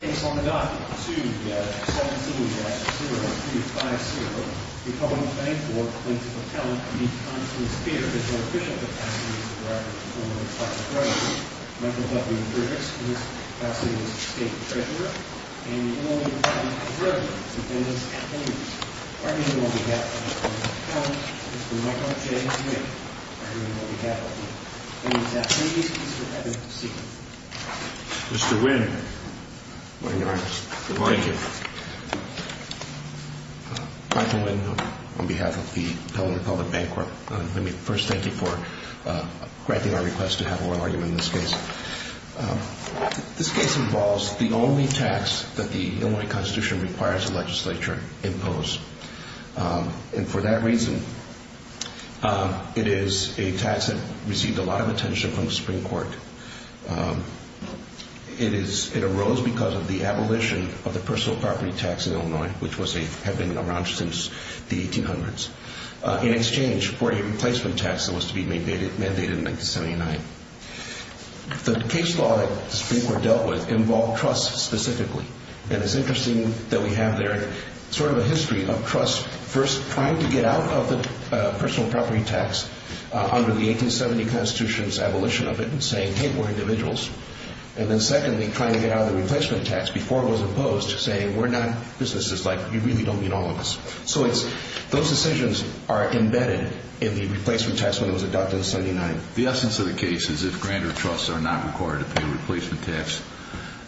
Case on the dot, 2-7-0-2-5-0. The public bank or plaintiff appellant needs time to disappear. It is more efficient to pass the case to the record of the former Attorney General. Michael Huffington, Jr. is the class A state treasurer. And the only attorney general to defend this case is Mr. Michael J. Smith. Mr. Smith, please proceed. Mr. Wynn. Good morning, Your Honor. Good morning. Thank you. Michael Wynn on behalf of the public bank court. Let me first thank you for granting our request to have a royal argument in this case. This case involves the only tax that the Illinois Constitution requires the legislature impose. And for that reason, it is a tax that received a lot of attention from the Supreme Court. It arose because of the abolition of the personal property tax in Illinois, which had been around since the 1800s, in exchange for a replacement tax that was to be mandated in 1979. The case law that the Supreme Court dealt with involved trust specifically. And it's interesting that we have there sort of a history of trust first trying to get out of the personal property tax under the 1870 Constitution's abolition of it and saying, hey, we're individuals. And then secondly, trying to get out of the replacement tax before it was imposed, saying we're not businesses. Like, you really don't need all of us. So those decisions are embedded in the replacement tax when it was adopted in 1979. The essence of the case is if grantor trusts are not required to pay a replacement tax,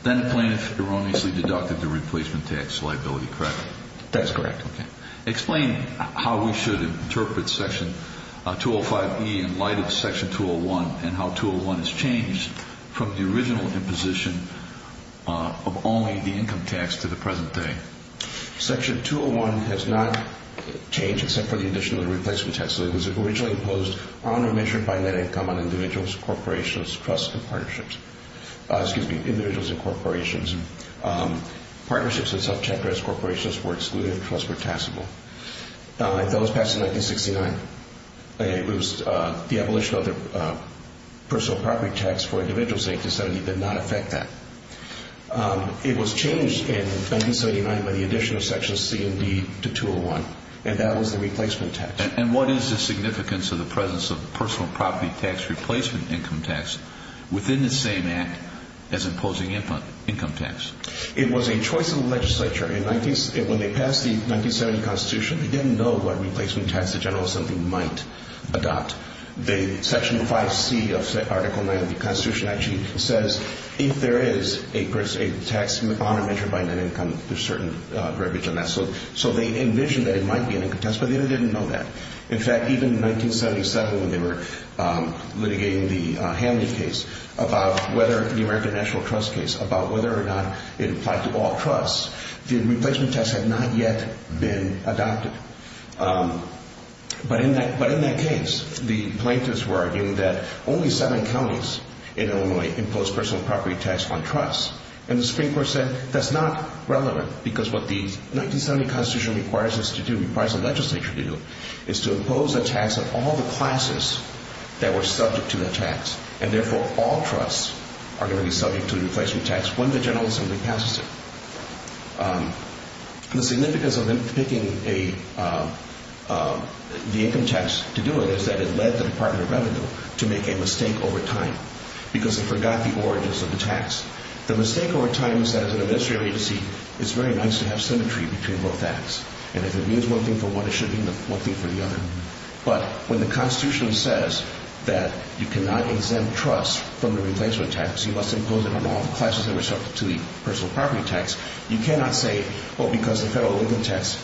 then the plaintiff erroneously deducted the replacement tax liability, correct? That's correct. Okay. Explain how we should interpret Section 205E in light of Section 201 and how 201 has changed from the original imposition of only the income tax to the present day. Section 201 has not changed except for the addition of the replacement tax. It was originally imposed on or measured by net income on individuals, corporations, trusts, and partnerships. Excuse me, individuals and corporations. Partnerships and self-checked as corporations were excluded and trusts were taxable. It was passed in 1969. The abolition of the personal property tax for individuals in 1870 did not affect that. It was changed in 1979 by the addition of Section C and D to 201, and that was the replacement tax. And what is the significance of the presence of personal property tax replacement income tax within the same act as imposing income tax? It was a choice of the legislature. When they passed the 1970 Constitution, they didn't know what replacement tax the general assembly might adopt. The Section 5C of Article 9 of the Constitution actually says if there is a tax on or measured by net income, there's certain breviage on that. So they envisioned that it might be an income tax, but they didn't know that. In fact, even in 1977 when they were litigating the Hamley case about whether the American National Trust case, about whether or not it applied to all trusts, the replacement tax had not yet been adopted. But in that case, the plaintiffs were arguing that only seven counties in Illinois imposed personal property tax on trusts, and the Supreme Court said that's not relevant because what the 1970 Constitution requires us to do, is to impose a tax on all the classes that were subject to that tax, and therefore all trusts are going to be subject to a replacement tax when the general assembly passes it. The significance of them picking the income tax to do it is that it led the Department of Revenue to make a mistake over time because they forgot the origins of the tax. The mistake over time is that as an administrative agency, it's very nice to have symmetry between both acts, and if it means one thing for one, it should mean one thing for the other. But when the Constitution says that you cannot exempt trusts from the replacement tax, you must impose it on all the classes that are subject to the personal property tax, you cannot say, well, because the federal income tax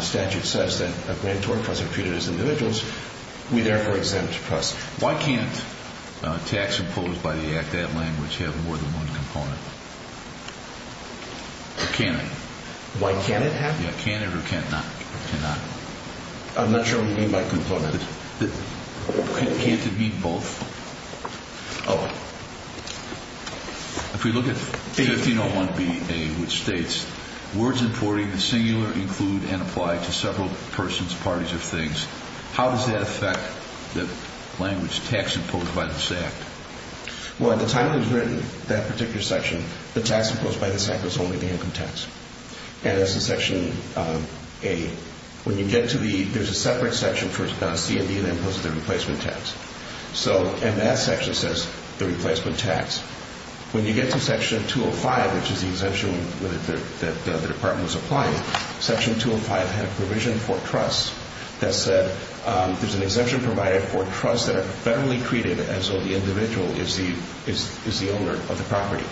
statute says that a grant or a trust are treated as individuals, we therefore exempt trusts. Why can't a tax imposed by the Act, that language, have more than one component? Or can it? Why can't it have? Yeah, can it or cannot? Cannot. I'm not sure what you mean by component. Can't it be both? Oh. If we look at 1501 B.A., which states, words importing the singular include and apply to several persons, parties, or things, how does that affect the language tax imposed by this Act? Well, at the time it was written, that particular section, the tax imposed by this Act was only the income tax. And that's the section A. When you get to the, there's a separate section for C and D that imposes the replacement tax. So, and that section says the replacement tax. When you get to section 205, which is the exemption that the Department was applying, section 205 had a provision for trusts that said, there's an exemption provided for trusts that are federally treated as though the individual is the owner of the property.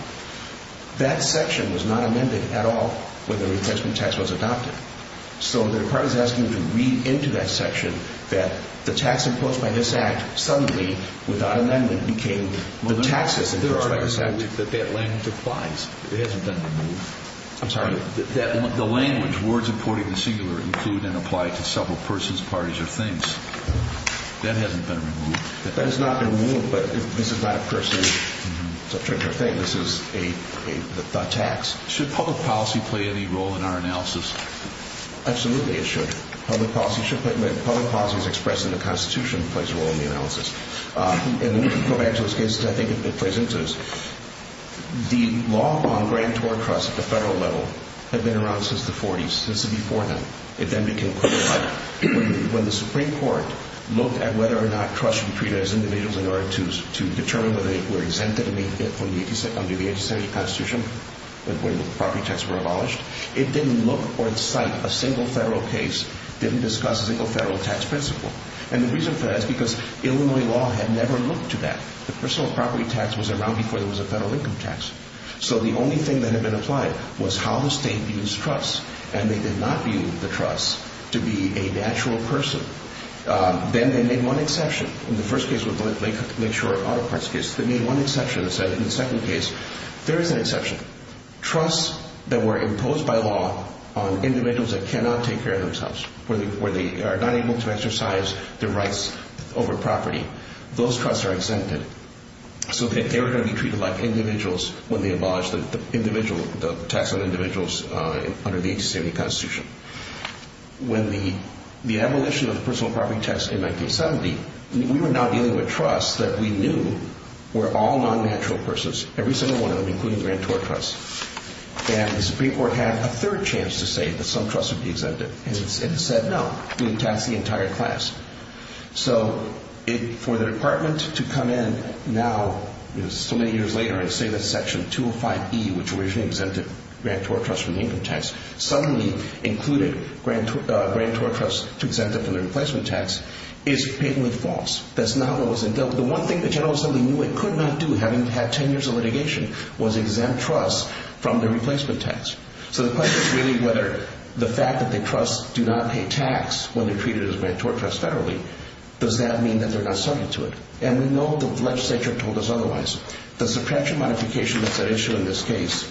That section was not amended at all when the replacement tax was adopted. So, the Department is asking you to read into that section that the tax imposed by this Act suddenly, without amendment, became the taxes imposed by this Act. Well, there are things that that language applies. It hasn't been removed. I'm sorry? The language, words importing the singular include and apply to several persons, parties, or things. That hasn't been removed. That has not been removed, but this is not a person, it's a particular thing. This is a tax. Should public policy play any role in our analysis? Absolutely, it should. Public policy should play, public policy is expressed in the Constitution, plays a role in the analysis. And we can go back to those cases, I think it plays into this. The law on grantor trusts at the federal level had been around since the 40s, since before then. It then became clear that when the Supreme Court looked at whether or not to determine whether they were exempted under the 1870 Constitution, when the property tax were abolished, it didn't look or incite a single federal case, didn't discuss a single federal tax principle. And the reason for that is because Illinois law had never looked to that. The personal property tax was around before there was a federal income tax. So, the only thing that had been applied was how the state views trusts, and they did not view the trusts to be a natural person. Then they made one exception. In the first case with Lake Shore Auto Parts case, they made one exception and said, in the second case, there is an exception. Trusts that were imposed by law on individuals that cannot take care of themselves, where they are not able to exercise their rights over property, those trusts are exempted so that they are going to be treated like individuals when they abolish the tax on individuals under the 1870 Constitution. When the abolition of the personal property tax in 1970, we were now dealing with trusts that we knew were all non-natural persons, every single one of them, including the Grantor Trust. And the Supreme Court had a third chance to say that some trusts would be exempted, and it said no, we would tax the entire class. So, for the Department to come in now, so many years later, and say that Section 205E, which originally exempted Grantor Trust from the income tax, suddenly included Grantor Trust to exempt it from the replacement tax, is patently false. That's not what was endeavored. The one thing the General Assembly knew it could not do, having had 10 years of litigation, was exempt trusts from the replacement tax. So the question is really whether the fact that the trusts do not pay tax when they're treated as Grantor Trust federally, does that mean that they're not subject to it? And we know the legislature told us otherwise. The subtraction modification that's at issue in this case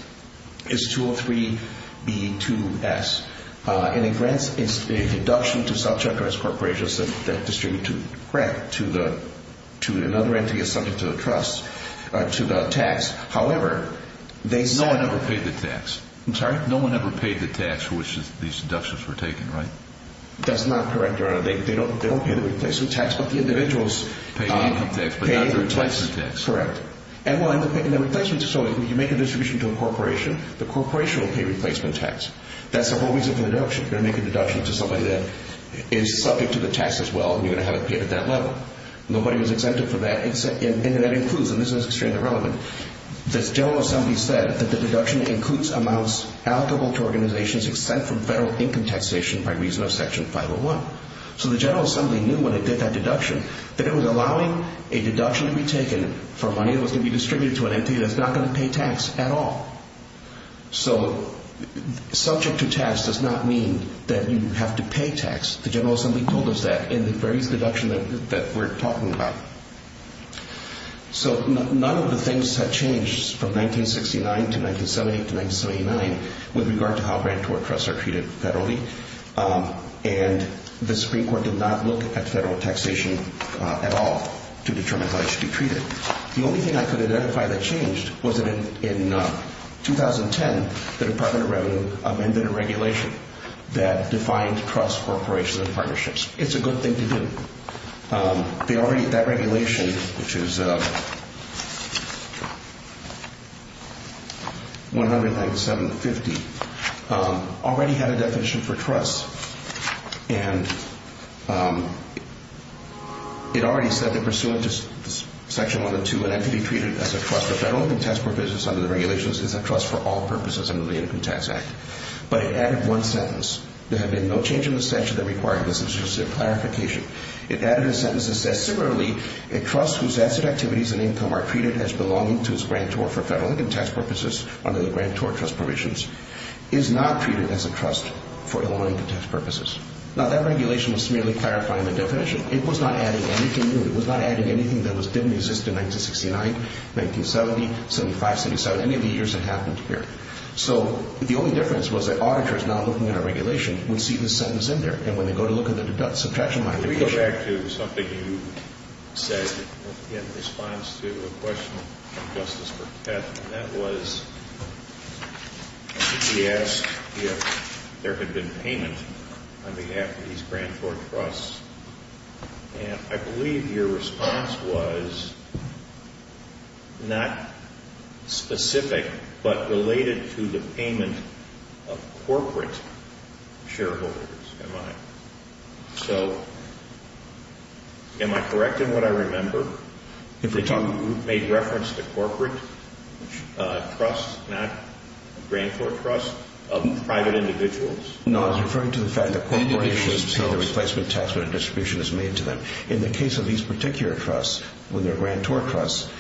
is 203B2S, and it grants an induction to subject or its corporations that distribute to another entity that's subject to the trust, to the tax. However, they said – No one ever paid the tax. I'm sorry? No one ever paid the tax for which these inductions were taken, right? That's not correct, Your Honor. They don't pay the replacement tax, but the individuals – Pay the income tax, but not the replacement tax. That's correct. And when you make a distribution to a corporation, the corporation will pay replacement tax. That's the whole reason for the deduction. You're going to make a deduction to somebody that is subject to the tax as well, and you're going to have it paid at that level. Nobody was exempted for that, and that includes – and this is extremely relevant – the General Assembly said that the deduction includes amounts allocable to organizations exempt from federal income taxation by reason of Section 501. So the General Assembly knew when it did that deduction that it was allowing a deduction to be taken for money that was going to be distributed to an entity that's not going to pay tax at all. So subject to tax does not mean that you have to pay tax. The General Assembly told us that in the various deductions that we're talking about. So none of the things have changed from 1969 to 1970 to 1979 with regard to how grantor trusts are treated federally, and the Supreme Court did not look at federal taxation at all to determine how it should be treated. The only thing I could identify that changed was that in 2010, the Department of Revenue amended a regulation that defined trusts, corporations, and partnerships. It's a good thing to do. They already – that regulation, which is 19750, already had a definition for trusts, and it already said that pursuant to Section 102, an entity treated as a trust – a federal income tax provision under the regulations is a trust for all purposes under the Income Tax Act. But it added one sentence. There had been no change in the statute that required this. This is just a clarification. It added a sentence that says similarly, a trust whose asset activities and income are treated as belonging to its grantor for federal income tax purposes under the grantor trust provisions is not treated as a trust for all income tax purposes. Now, that regulation was merely clarifying the definition. It was not adding anything new. It was not adding anything that didn't exist in 1969, 1970, 75, 77, any of the years that happened here. So the only difference was that auditors now looking at a regulation would see this sentence in there, and when they go to look at the subtraction – Let me go back to something you said in response to a question from Justice Burkett, and that was – I think he asked if there had been payment on behalf of these grantor trusts, and I believe your response was not specific, but related to the payment of corporate shareholders, am I? So am I correct in what I remember? If you made reference to corporate trust, not grantor trust, of private individuals? No, I was referring to the fact that corporations pay the replacement tax when a distribution is made to them. In the case of these particular trusts, when they're grantor trusts,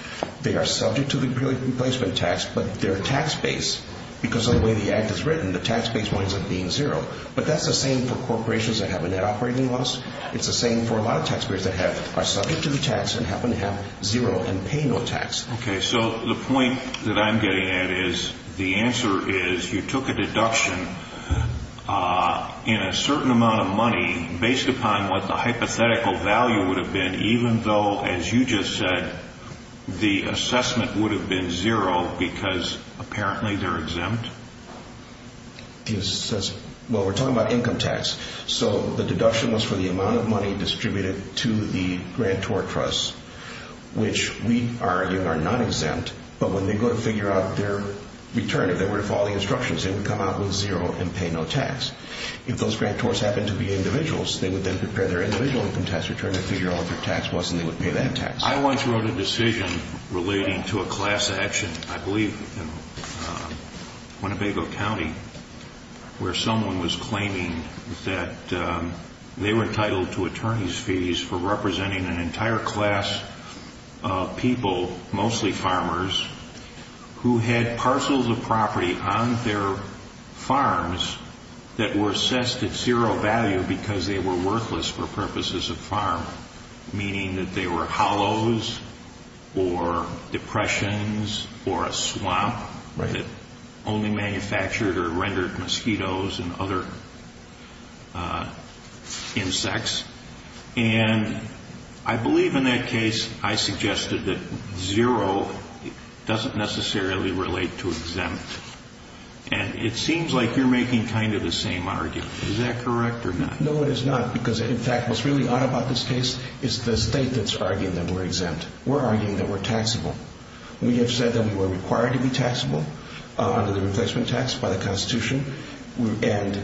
they are subject to the replacement tax, but their tax base – because of the way the Act is written, the tax base winds up being zero. But that's the same for corporations that have a net operating loss. It's the same for a lot of taxpayers that are subject to the tax and happen to have zero and pay no tax. Okay, so the point that I'm getting at is the answer is you took a deduction in a certain amount of money based upon what the hypothetical value would have been, even though, as you just said, the assessment would have been zero because apparently they're exempt? Well, we're talking about income tax. So the deduction was for the amount of money distributed to the grantor trusts, which we argue are not exempt, but when they go to figure out their return, if they were to follow the instructions, they would come out with zero and pay no tax. If those grantors happened to be individuals, they would then prepare their individual income tax return and figure out what their tax was, and they would pay that tax. I once wrote a decision relating to a class action, I believe in Winnebago County, where someone was claiming that they were entitled to attorney's fees for representing an entire class of people, mostly farmers, who had parcels of property on their farms that were assessed at zero value because they were worthless for purposes of farming, meaning that they were hollows or depressions or a swamp that only manufactured or rendered mosquitoes and other insects. And I believe in that case I suggested that zero doesn't necessarily relate to exempt. And it seems like you're making kind of the same argument. Is that correct or not? No, it is not, because in fact what's really odd about this case is the state that's arguing that we're exempt. We're arguing that we're taxable. We have said that we were required to be taxable under the replacement tax by the Constitution, and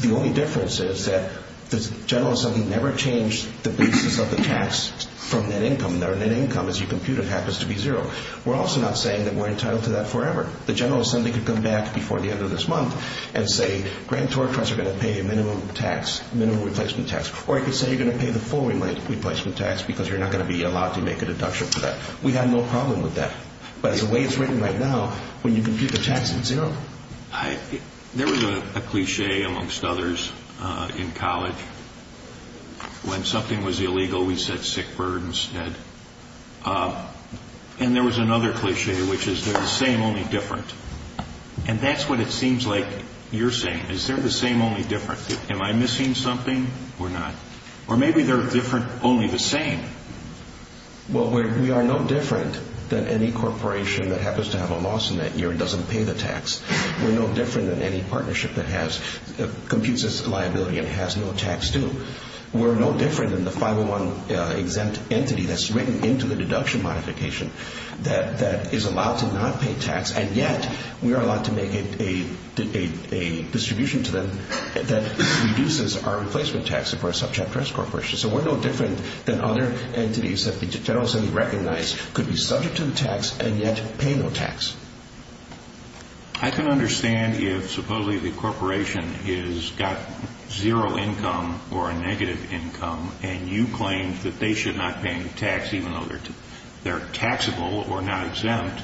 the only difference is that the General Assembly never changed the basis of the tax from net income. Our net income, as you compute it, happens to be zero. We're also not saying that we're entitled to that forever. The General Assembly could come back before the end of this month and say, grantors are going to pay a minimum tax, minimum replacement tax, or it could say you're going to pay the full replacement tax because you're not going to be allowed to make a deduction for that. We have no problem with that. But the way it's written right now, when you compute the tax, it's zero. There was a cliché amongst others in college. When something was illegal, we said sick bird instead. And there was another cliché, which is they're the same, only different. And that's what it seems like you're saying. Is there the same, only different? Am I missing something or not? Or maybe they're different, only the same. Well, we are no different than any corporation that happens to have a loss in that year and doesn't pay the tax. We're no different than any partnership that computes its liability and has no tax due. We're no different than the 501 exempt entity that's written into the deduction modification that is allowed to not pay tax, and yet we are allowed to make a distribution to them that reduces our replacement tax if we're a subject-risk corporation. So we're no different than other entities that the general assembly recognized could be subject to the tax and yet pay no tax. I can understand if supposedly the corporation has got zero income or a negative income, and you claim that they should not pay any tax even though they're taxable or not exempt,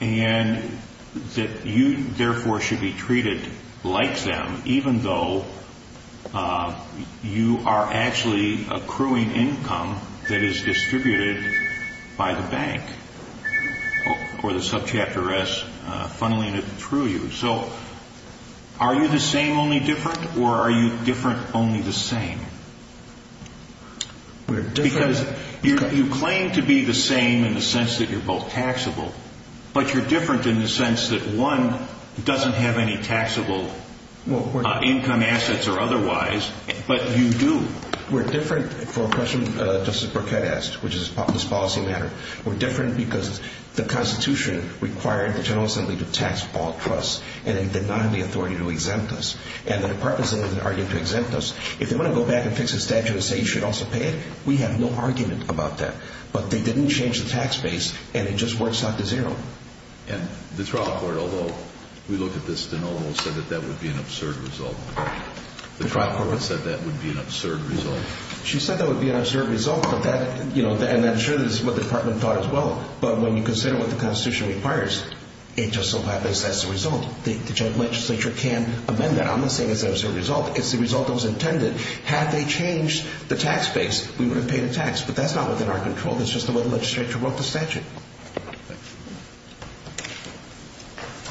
and that you therefore should be treated like them even though you are actually accruing income that is distributed by the bank or the subject-risk funneling it through you. So are you the same, only different, or are you different, only the same? Because you claim to be the same in the sense that you're both taxable, but you're different in the sense that one doesn't have any taxable income assets or otherwise, but you do. We're different for a question Justice Burkett asked, which is this policy matter. We're different because the Constitution required the general assembly to tax all trusts, and it did not have the authority to exempt us. If they want to go back and fix the statute and say you should also pay it, we have no argument about that. But they didn't change the tax base, and it just works out to zero. And the trial court, although we look at this de novo, said that that would be an absurd result. The trial court said that would be an absurd result? She said that would be an absurd result, and I'm sure this is what the department thought as well, but when you consider what the Constitution requires, it just so happens that's the result. The legislature can amend that. I'm not saying it's an absurd result. It's the result that was intended. Had they changed the tax base, we would have paid a tax, but that's not within our control. That's just the way the legislature wrote the statute.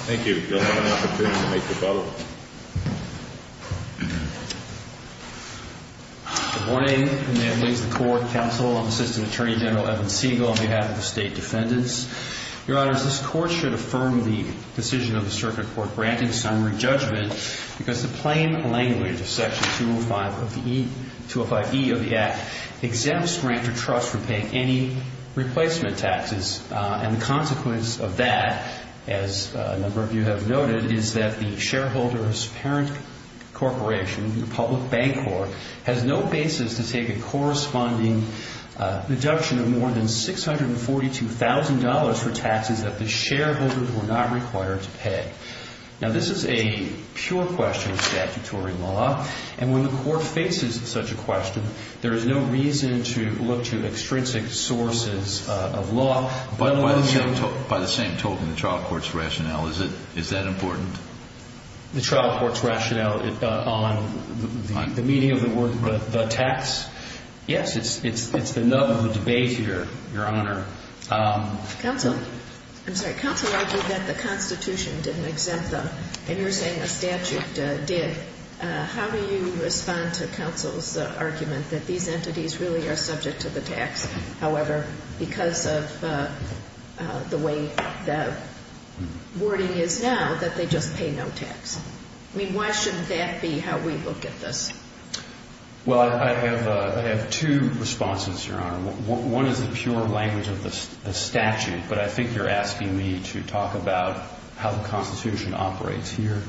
Thank you. You'll have an opportunity to make your vote. Good morning, and may it please the court, counsel, I'm Assistant Attorney General Evan Siegel on behalf of the state defendants. Your Honors, this court should affirm the decision of the circuit court granting summary judgment because the plain language of Section 205E of the Act exempts grantor trusts from paying any replacement taxes. And the consequence of that, as a number of you have noted, is that the shareholder's parent corporation, the public bank corp, has no basis to take a corresponding deduction of more than $642,000 for taxes that the shareholders were not required to pay. Now, this is a pure question of statutory law, and when the court faces such a question, there is no reason to look to extrinsic sources of law. By the same token, the trial court's rationale, is that important? The trial court's rationale on the meaning of the tax? Yes, it's the nub of the debate here, Your Honor. Counsel, I'm sorry, counsel argued that the Constitution didn't exempt them, and you're saying the statute did. How do you respond to counsel's argument that these entities really are subject to the tax, however, because of the way the wording is now, that they just pay no tax? I mean, why shouldn't that be how we look at this? Well, I have two responses, Your Honor. One is the pure language of the statute, but I think you're asking me to talk about how the Constitution operates here.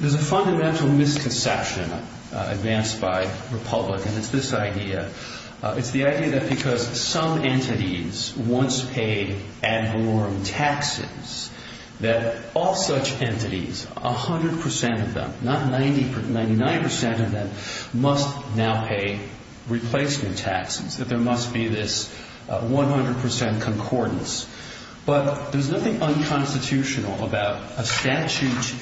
There's a fundamental misconception advanced by Republicans. And it's this idea. It's the idea that because some entities once paid ad valorem taxes, that all such entities, 100% of them, not 99% of them, must now pay replacement taxes, that there must be this 100% concordance. But there's nothing unconstitutional about a statute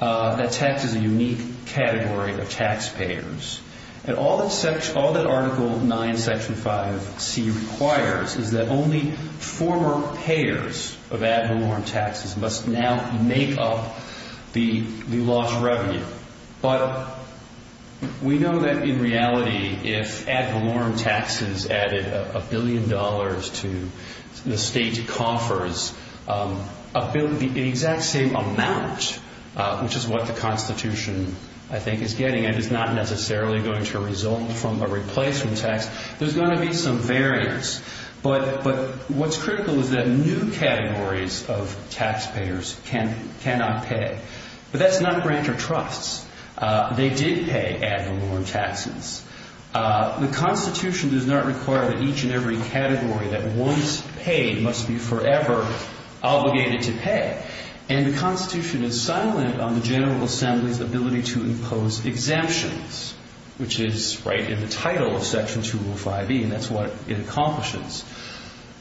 that's hexed as a unique category of taxpayers. And all that Article IX, Section 5C requires is that only former payers of ad valorem taxes must now make up the lost revenue. But we know that in reality, if ad valorem taxes added a billion dollars to the state's coffers, the exact same amount, which is what the Constitution, I think, is getting, is not necessarily going to result from a replacement tax. There's going to be some variance. But what's critical is that new categories of taxpayers cannot pay. But that's not grantor trusts. They did pay ad valorem taxes. The Constitution does not require that each and every category that once paid must be forever obligated to pay. And the Constitution is silent on the General Assembly's ability to impose exemptions, which is right in the title of Section 205E, and that's what it accomplishes.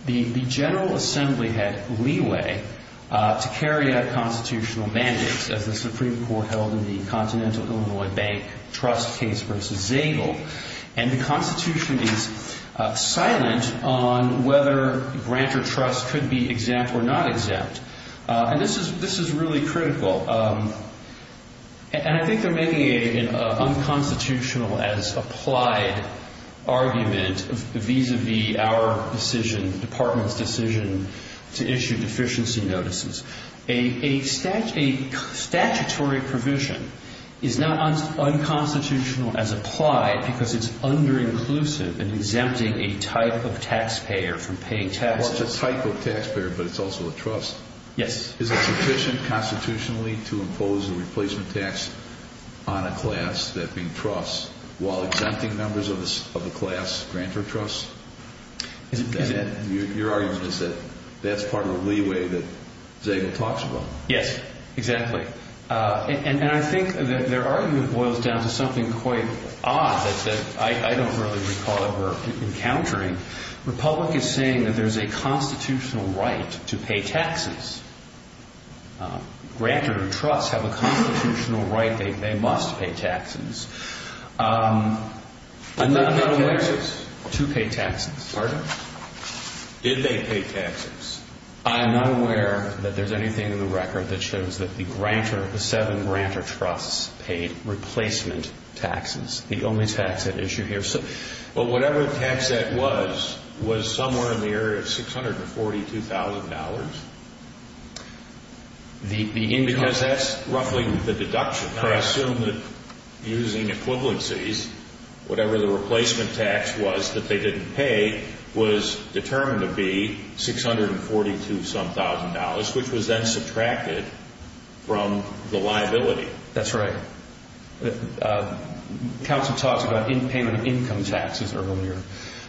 The General Assembly had leeway to carry out constitutional mandates, as the Supreme Court held in the Continental Illinois Bank trust case versus Zabel. And the Constitution is silent on whether grantor trusts could be exempt or not exempt. And this is really critical. And I think they're making an unconstitutional as applied argument vis-à-vis our decision, the Department's decision to issue deficiency notices. A statutory provision is not unconstitutional as applied because it's under-inclusive in exempting a type of taxpayer from paying taxes. Well, it's a type of taxpayer, but it's also a trust. Yes. Is it sufficient constitutionally to impose a replacement tax on a class that being trusts while exempting members of the class grantor trusts? Your argument is that that's part of the leeway that Zabel talks about. Yes, exactly. And I think their argument boils down to something quite odd that I don't really recall ever encountering. Republic is saying that there's a constitutional right to pay taxes. Grantor trusts have a constitutional right. They must pay taxes. I'm not aware. Who paid taxes? Two paid taxes. Pardon? Did they pay taxes? I'm not aware that there's anything in the record that shows that the grantor, the seven grantor trusts paid replacement taxes. The only tax issue here. Well, whatever tax that was, was somewhere in the area of $642,000. Because that's roughly the deduction. I assume that using equivalencies, whatever the replacement tax was that they didn't pay was determined to be $642-some-thousand, which was then subtracted from the liability. That's right. Counsel talked about payment of income taxes earlier.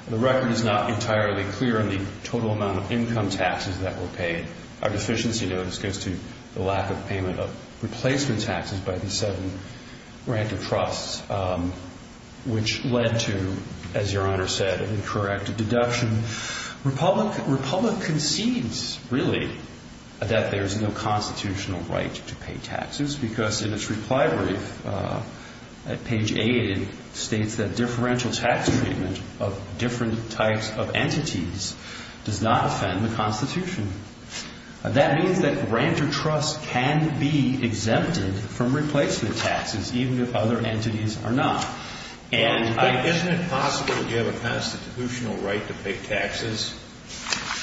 The record is not entirely clear on the total amount of income taxes that were paid. Our deficiency notice goes to the lack of payment of replacement taxes by the seven grantor trusts, which led to, as Your Honor said, an incorrect deduction. Republic concedes, really, that there's no constitutional right to pay taxes because in its reply brief at page 8 it states that differential tax treatment of different types of entities does not offend the Constitution. That means that grantor trusts can be exempted from replacement taxes, even if other entities are not. Isn't it possible that you have a constitutional right to pay taxes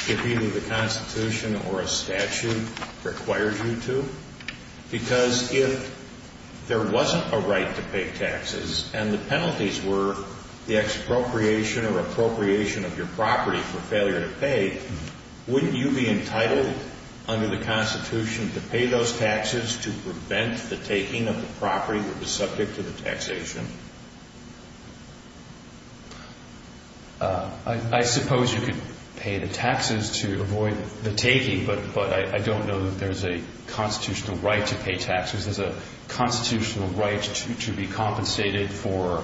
if either the Constitution or a statute requires you to? Because if there wasn't a right to pay taxes and the penalties were the expropriation or appropriation of your property for failure to pay, wouldn't you be entitled under the Constitution to pay those taxes to prevent the taking of the property that was subject to the taxation? I suppose you could pay the taxes to avoid the taking, but I don't know that there's a constitutional right to pay taxes. There's a constitutional right to be compensated for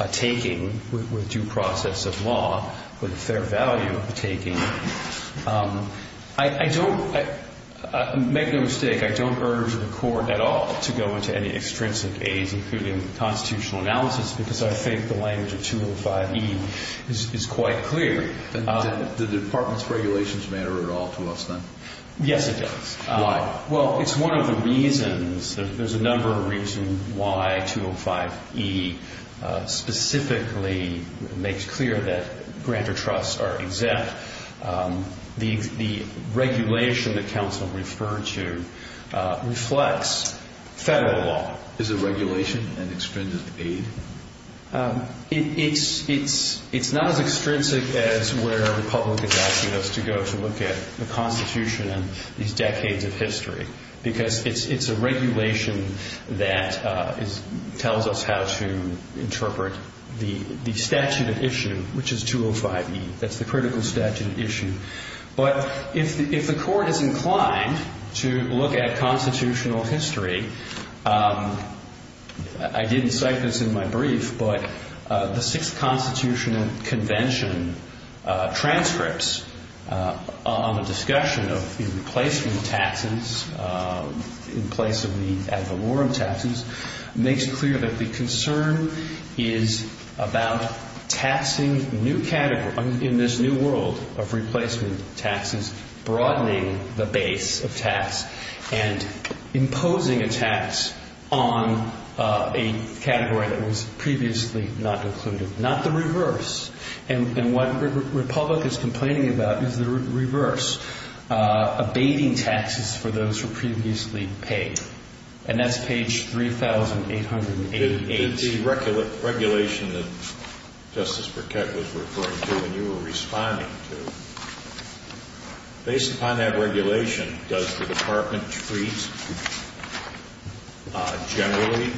a taking with due process of law with a fair value of the taking. Make no mistake, I don't urge the Court at all to go into any extrinsic A's, including constitutional analysis, because I think the language of 205E is quite clear. Do the Department's regulations matter at all to us then? Yes, it does. Why? Well, it's one of the reasons. There's a number of reasons why 205E specifically makes clear that grantor trusts are exempt. The regulation that counsel referred to reflects federal law. Is the regulation an extrinsic A? It's not as extrinsic as where the public is asking us to go to look at the Constitution and these decades of history, because it's a regulation that tells us how to interpret the statute of issue, which is 205E. But if the Court is inclined to look at constitutional history, I didn't cite this in my brief, but the Sixth Constitutional Convention transcripts on the discussion of the replacement taxes in place of the ad valorem taxes makes clear that the concern is about taxing in this new world of replacement taxes, broadening the base of tax and imposing a tax on a category that was previously not included. Not the reverse. And what the Republic is complaining about is the reverse, abating taxes for those who were previously paid. And that's page 3,888. Did the regulation that Justice Burkett was referring to and you were responding to, based upon that regulation, does the Department treat generally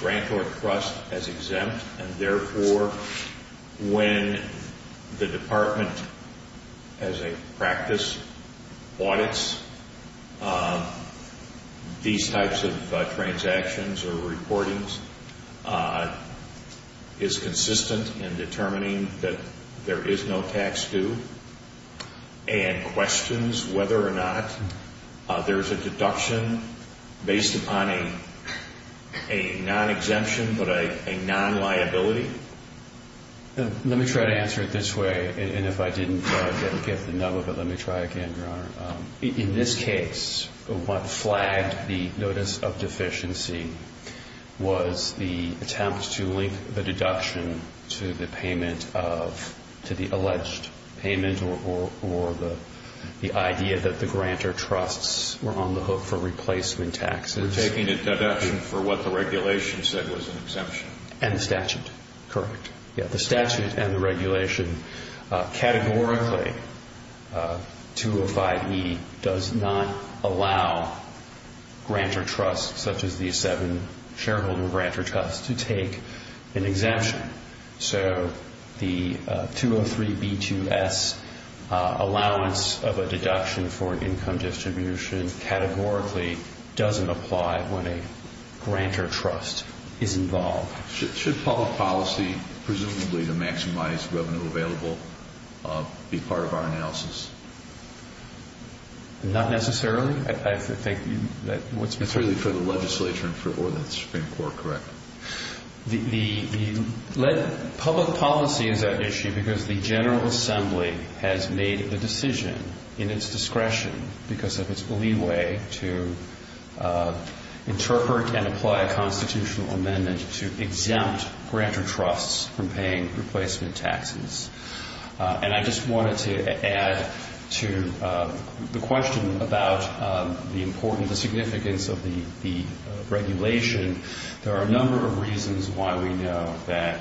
grantor trust as exempt and, therefore, when the Department, as a practice, audits these types of transactions or reportings, is consistent in determining that there is no tax due and questions whether or not there is a deduction based upon a non-exemption but a non-liability? Let me try to answer it this way. And if I didn't get the nub of it, let me try again, Your Honor. In this case, what flagged the notice of deficiency was the attempt to link the deduction to the payment of the alleged payment or the idea that the grantor trusts were on the hook for replacement taxes. They were taking a deduction for what the regulation said was an exemption. And the statute. Correct. The statute and the regulation categorically, 205E, does not allow grantor trusts, such as the seven shareholder grantor trusts, to take an exemption. So the 203B2S, allowance of a deduction for an income distribution, categorically doesn't apply when a grantor trust is involved. Should public policy, presumably to maximize revenue available, be part of our analysis? Not necessarily. It's really for the legislature or the Supreme Court, correct? Public policy is at issue because the General Assembly has made the decision in its discretion, because of its leeway, to interpret and apply a constitutional amendment to exempt grantor trusts from paying replacement taxes. And I just wanted to add to the question about the importance, the significance, of the regulation. There are a number of reasons why we know that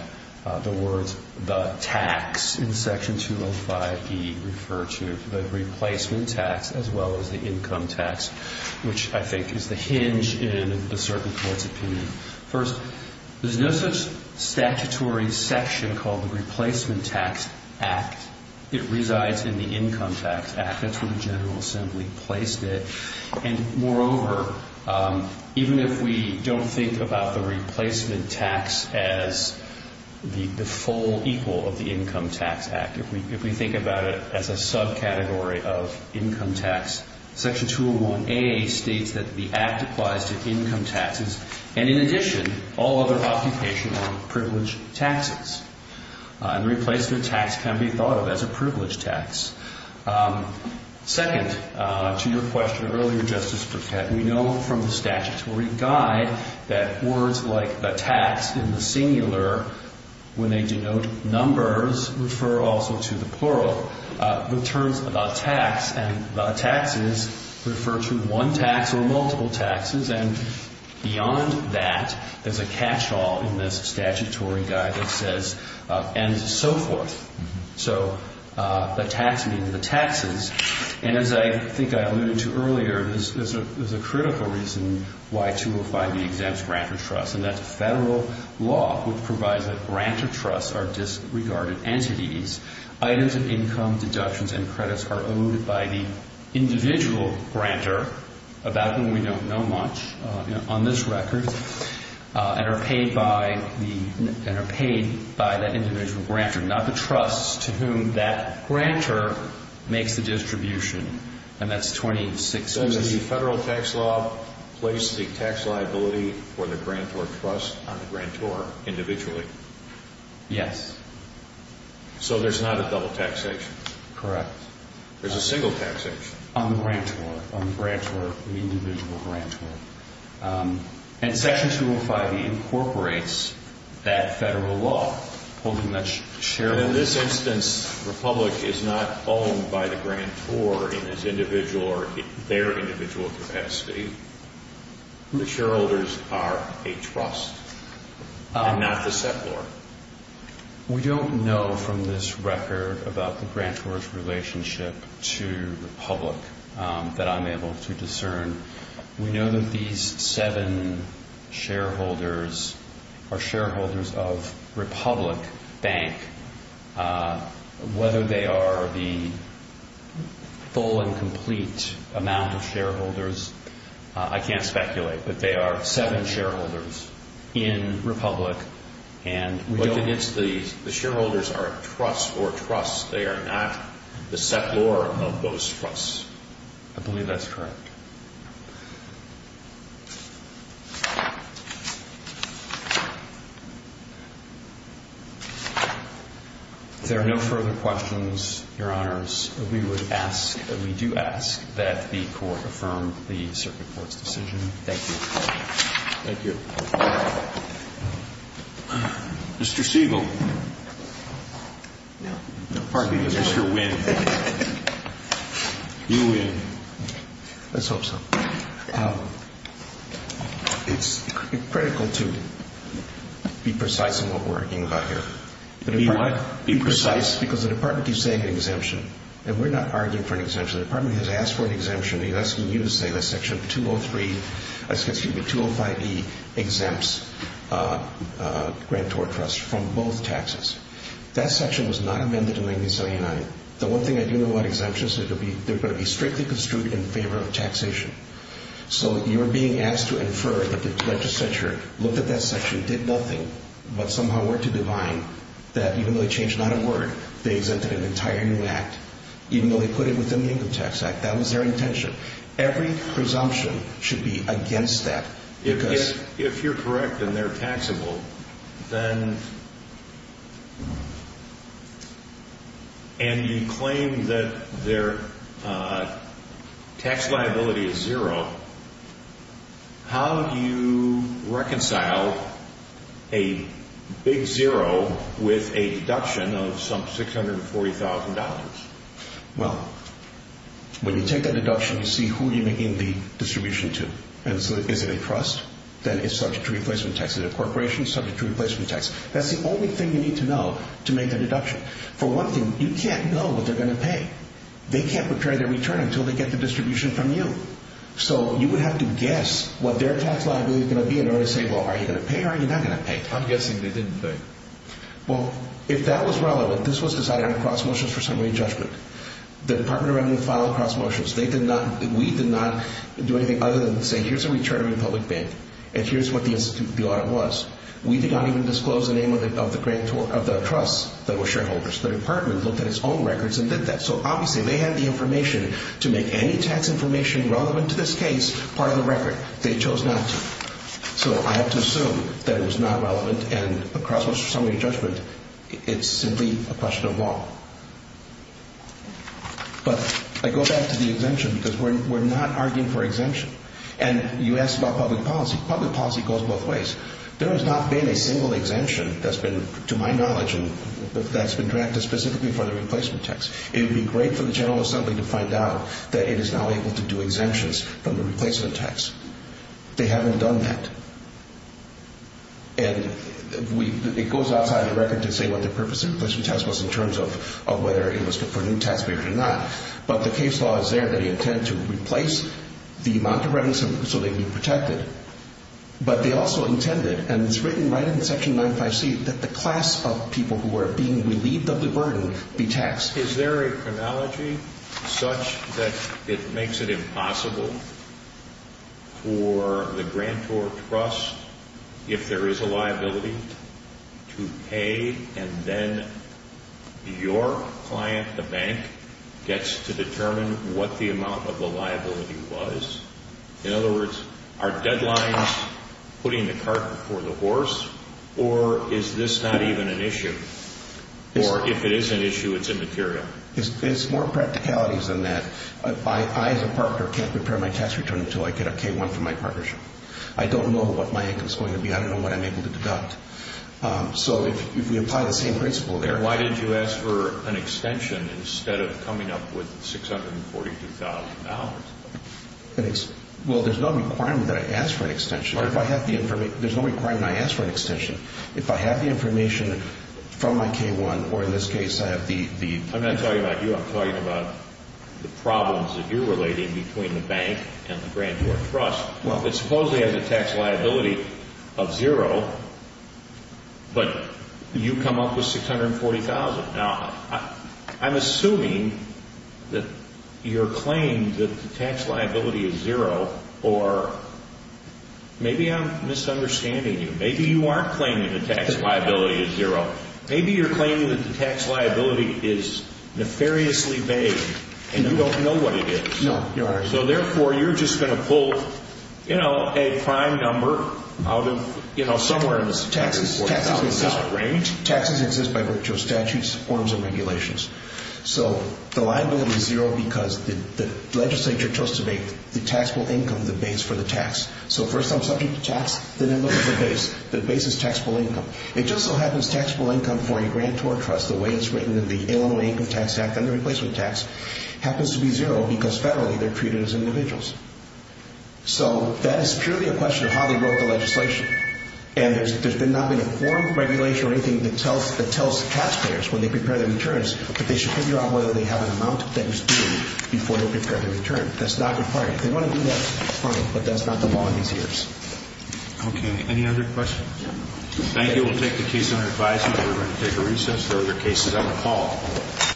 the words the tax in Section 205E refer to the replacement tax as well as the income tax, which I think is the hinge in a certain court's opinion. First, there's no such statutory section called the Replacement Tax Act. It resides in the Income Tax Act. That's where the General Assembly placed it. And, moreover, even if we don't think about the replacement tax as the full equal of the Income Tax Act, if we think about it as a subcategory of income tax, Section 201A states that the act applies to income taxes and, in addition, all other occupation on privileged taxes. And replacement tax can be thought of as a privileged tax. Second to your question earlier, Justice Burkett, we know from the statutory guide that words like the tax in the singular, when they denote numbers, refer also to the plural. The terms the tax and the taxes refer to one tax or multiple taxes. And beyond that, there's a catch-all in this statutory guide that says and so forth. So the tax means the taxes. And as I think I alluded to earlier, there's a critical reason why 205B exempts grantor trusts, and that's a federal law which provides that grantor trusts are disregarded entities. Items of income, deductions, and credits are owed by the individual grantor, about whom we don't know much on this record, and are paid by that individual grantor, not the trusts to whom that grantor makes the distribution, and that's 206B. So does the federal tax law place the tax liability for the grantor trust on the grantor individually? Yes. So there's not a double taxation? Correct. There's a single taxation? On the grantor, on the individual grantor. And Section 205B incorporates that federal law. In this instance, Republic is not owned by the grantor in his individual or their individual capacity. The shareholders are a trust and not the settlor. We don't know from this record about the grantor's relationship to Republic that I'm able to discern. We know that these seven shareholders are shareholders of Republic Bank. Whether they are the full and complete amount of shareholders, I can't speculate, but they are seven shareholders in Republic, and we don't know. But the shareholders are a trust or trusts. They are not the settlor of those trusts. I believe that's correct. If there are no further questions, Your Honors, we would ask, we do ask that the Court affirm the Circuit Court's decision. Thank you. Thank you. Mr. Siegel. No. Pardon me, Mr. Winn. You win. Let's hope so. It's critical to be precise in what we're arguing about here. Be what? Be precise. Because the Department keeps saying an exemption, and we're not arguing for an exemption. The Department has asked for an exemption. It's asking you to say that Section 203, excuse me, 205E exempts grantor trusts from both taxes. That section was not amended in 1979. The one thing I do know about exemptions is they're going to be strictly construed in favor of taxation. So you're being asked to infer that the legislature looked at that section, did nothing, but somehow worked to divine that even though they changed not a word, they exempted an entire new act, even though they put it within the Income Tax Act. That was their intention. Every presumption should be against that. If you're correct and they're taxable, and you claim that their tax liability is zero, how do you reconcile a big zero with a deduction of some $640,000? Well, when you take a deduction, you see who you're making the distribution to. Is it a trust? Then it's subject to replacement tax. Is it a corporation? Subject to replacement tax. That's the only thing you need to know to make a deduction. For one thing, you can't know what they're going to pay. They can't prepare their return until they get the distribution from you. So you would have to guess what their tax liability is going to be in order to say, well, are you going to pay or are you not going to pay? I'm guessing they didn't pay. Well, if that was relevant, this was decided on cross motions for summary judgment. The Department of Revenue filed cross motions. We did not do anything other than say, here's a return from the public bank, and here's what the audit was. We did not even disclose the name of the trusts that were shareholders. The Department looked at its own records and did that. So, obviously, they had the information to make any tax information relevant to this case part of the record. They chose not to. So I have to assume that it was not relevant, and a cross motion for summary judgment, it's simply a question of law. But I go back to the exemption because we're not arguing for exemption. And you asked about public policy. Public policy goes both ways. There has not been a single exemption that's been, to my knowledge, that's been drafted specifically for the replacement tax. It would be great for the General Assembly to find out that it is now able to do exemptions from the replacement tax. They haven't done that. And it goes outside the record to say what the purpose of the replacement tax was in terms of whether it was for a new taxpayer or not. But the case law is there that they intend to replace the amount of revenue so they can be protected. But they also intended, and it's written right in Section 95C, that the class of people who are being relieved of the burden be taxed. Is there a chronology such that it makes it impossible for the grantor trust, if there is a liability, to pay and then your client, the bank, gets to determine what the amount of the liability was? In other words, are deadlines putting the cart before the horse, or is this not even an issue? Or if it is an issue, it's immaterial? There's more practicalities than that. I, as a partner, can't prepare my tax return until I get a K-1 from my partnership. I don't know what my income is going to be. I don't know what I'm able to deduct. So if we apply the same principle there. Why did you ask for an extension instead of coming up with $642,000? Well, there's no requirement that I ask for an extension. There's no requirement I ask for an extension. If I have the information from my K-1, or in this case, I have the… I'm not talking about you. I'm talking about the problems that you're relating between the bank and the grantor trust. Well… That supposedly has a tax liability of zero, but you come up with $640,000. Now, I'm assuming that your claim that the tax liability is zero, or maybe I'm misunderstanding you. Maybe you aren't claiming the tax liability is zero. Maybe you're claiming that the tax liability is nefariously vague, and you don't know what it is. No, Your Honor. So therefore, you're just going to pull a prime number out of somewhere in this $640,000 range? Taxes exist by virtue of statutes, forms, and regulations. So the liability is zero because the legislature chose to make the taxable income the base for the tax. So first I'm subject to tax, then I look at the base. The base is taxable income. It just so happens that taxable income for a grantor trust, the way it's written in the Illinois Income Tax Act and the replacement tax, happens to be zero because federally they're treated as individuals. So that is purely a question of how they wrote the legislation. And there's not been a form of regulation or anything that tells taxpayers when they prepare their returns that they should figure out whether they have an amount that is due before they prepare their return. That's not required. They want to do that, but that's not the law in these years. Okay. Any other questions? Thank you. We'll take the case under advisement. We're going to take a recess. There are other cases on the call.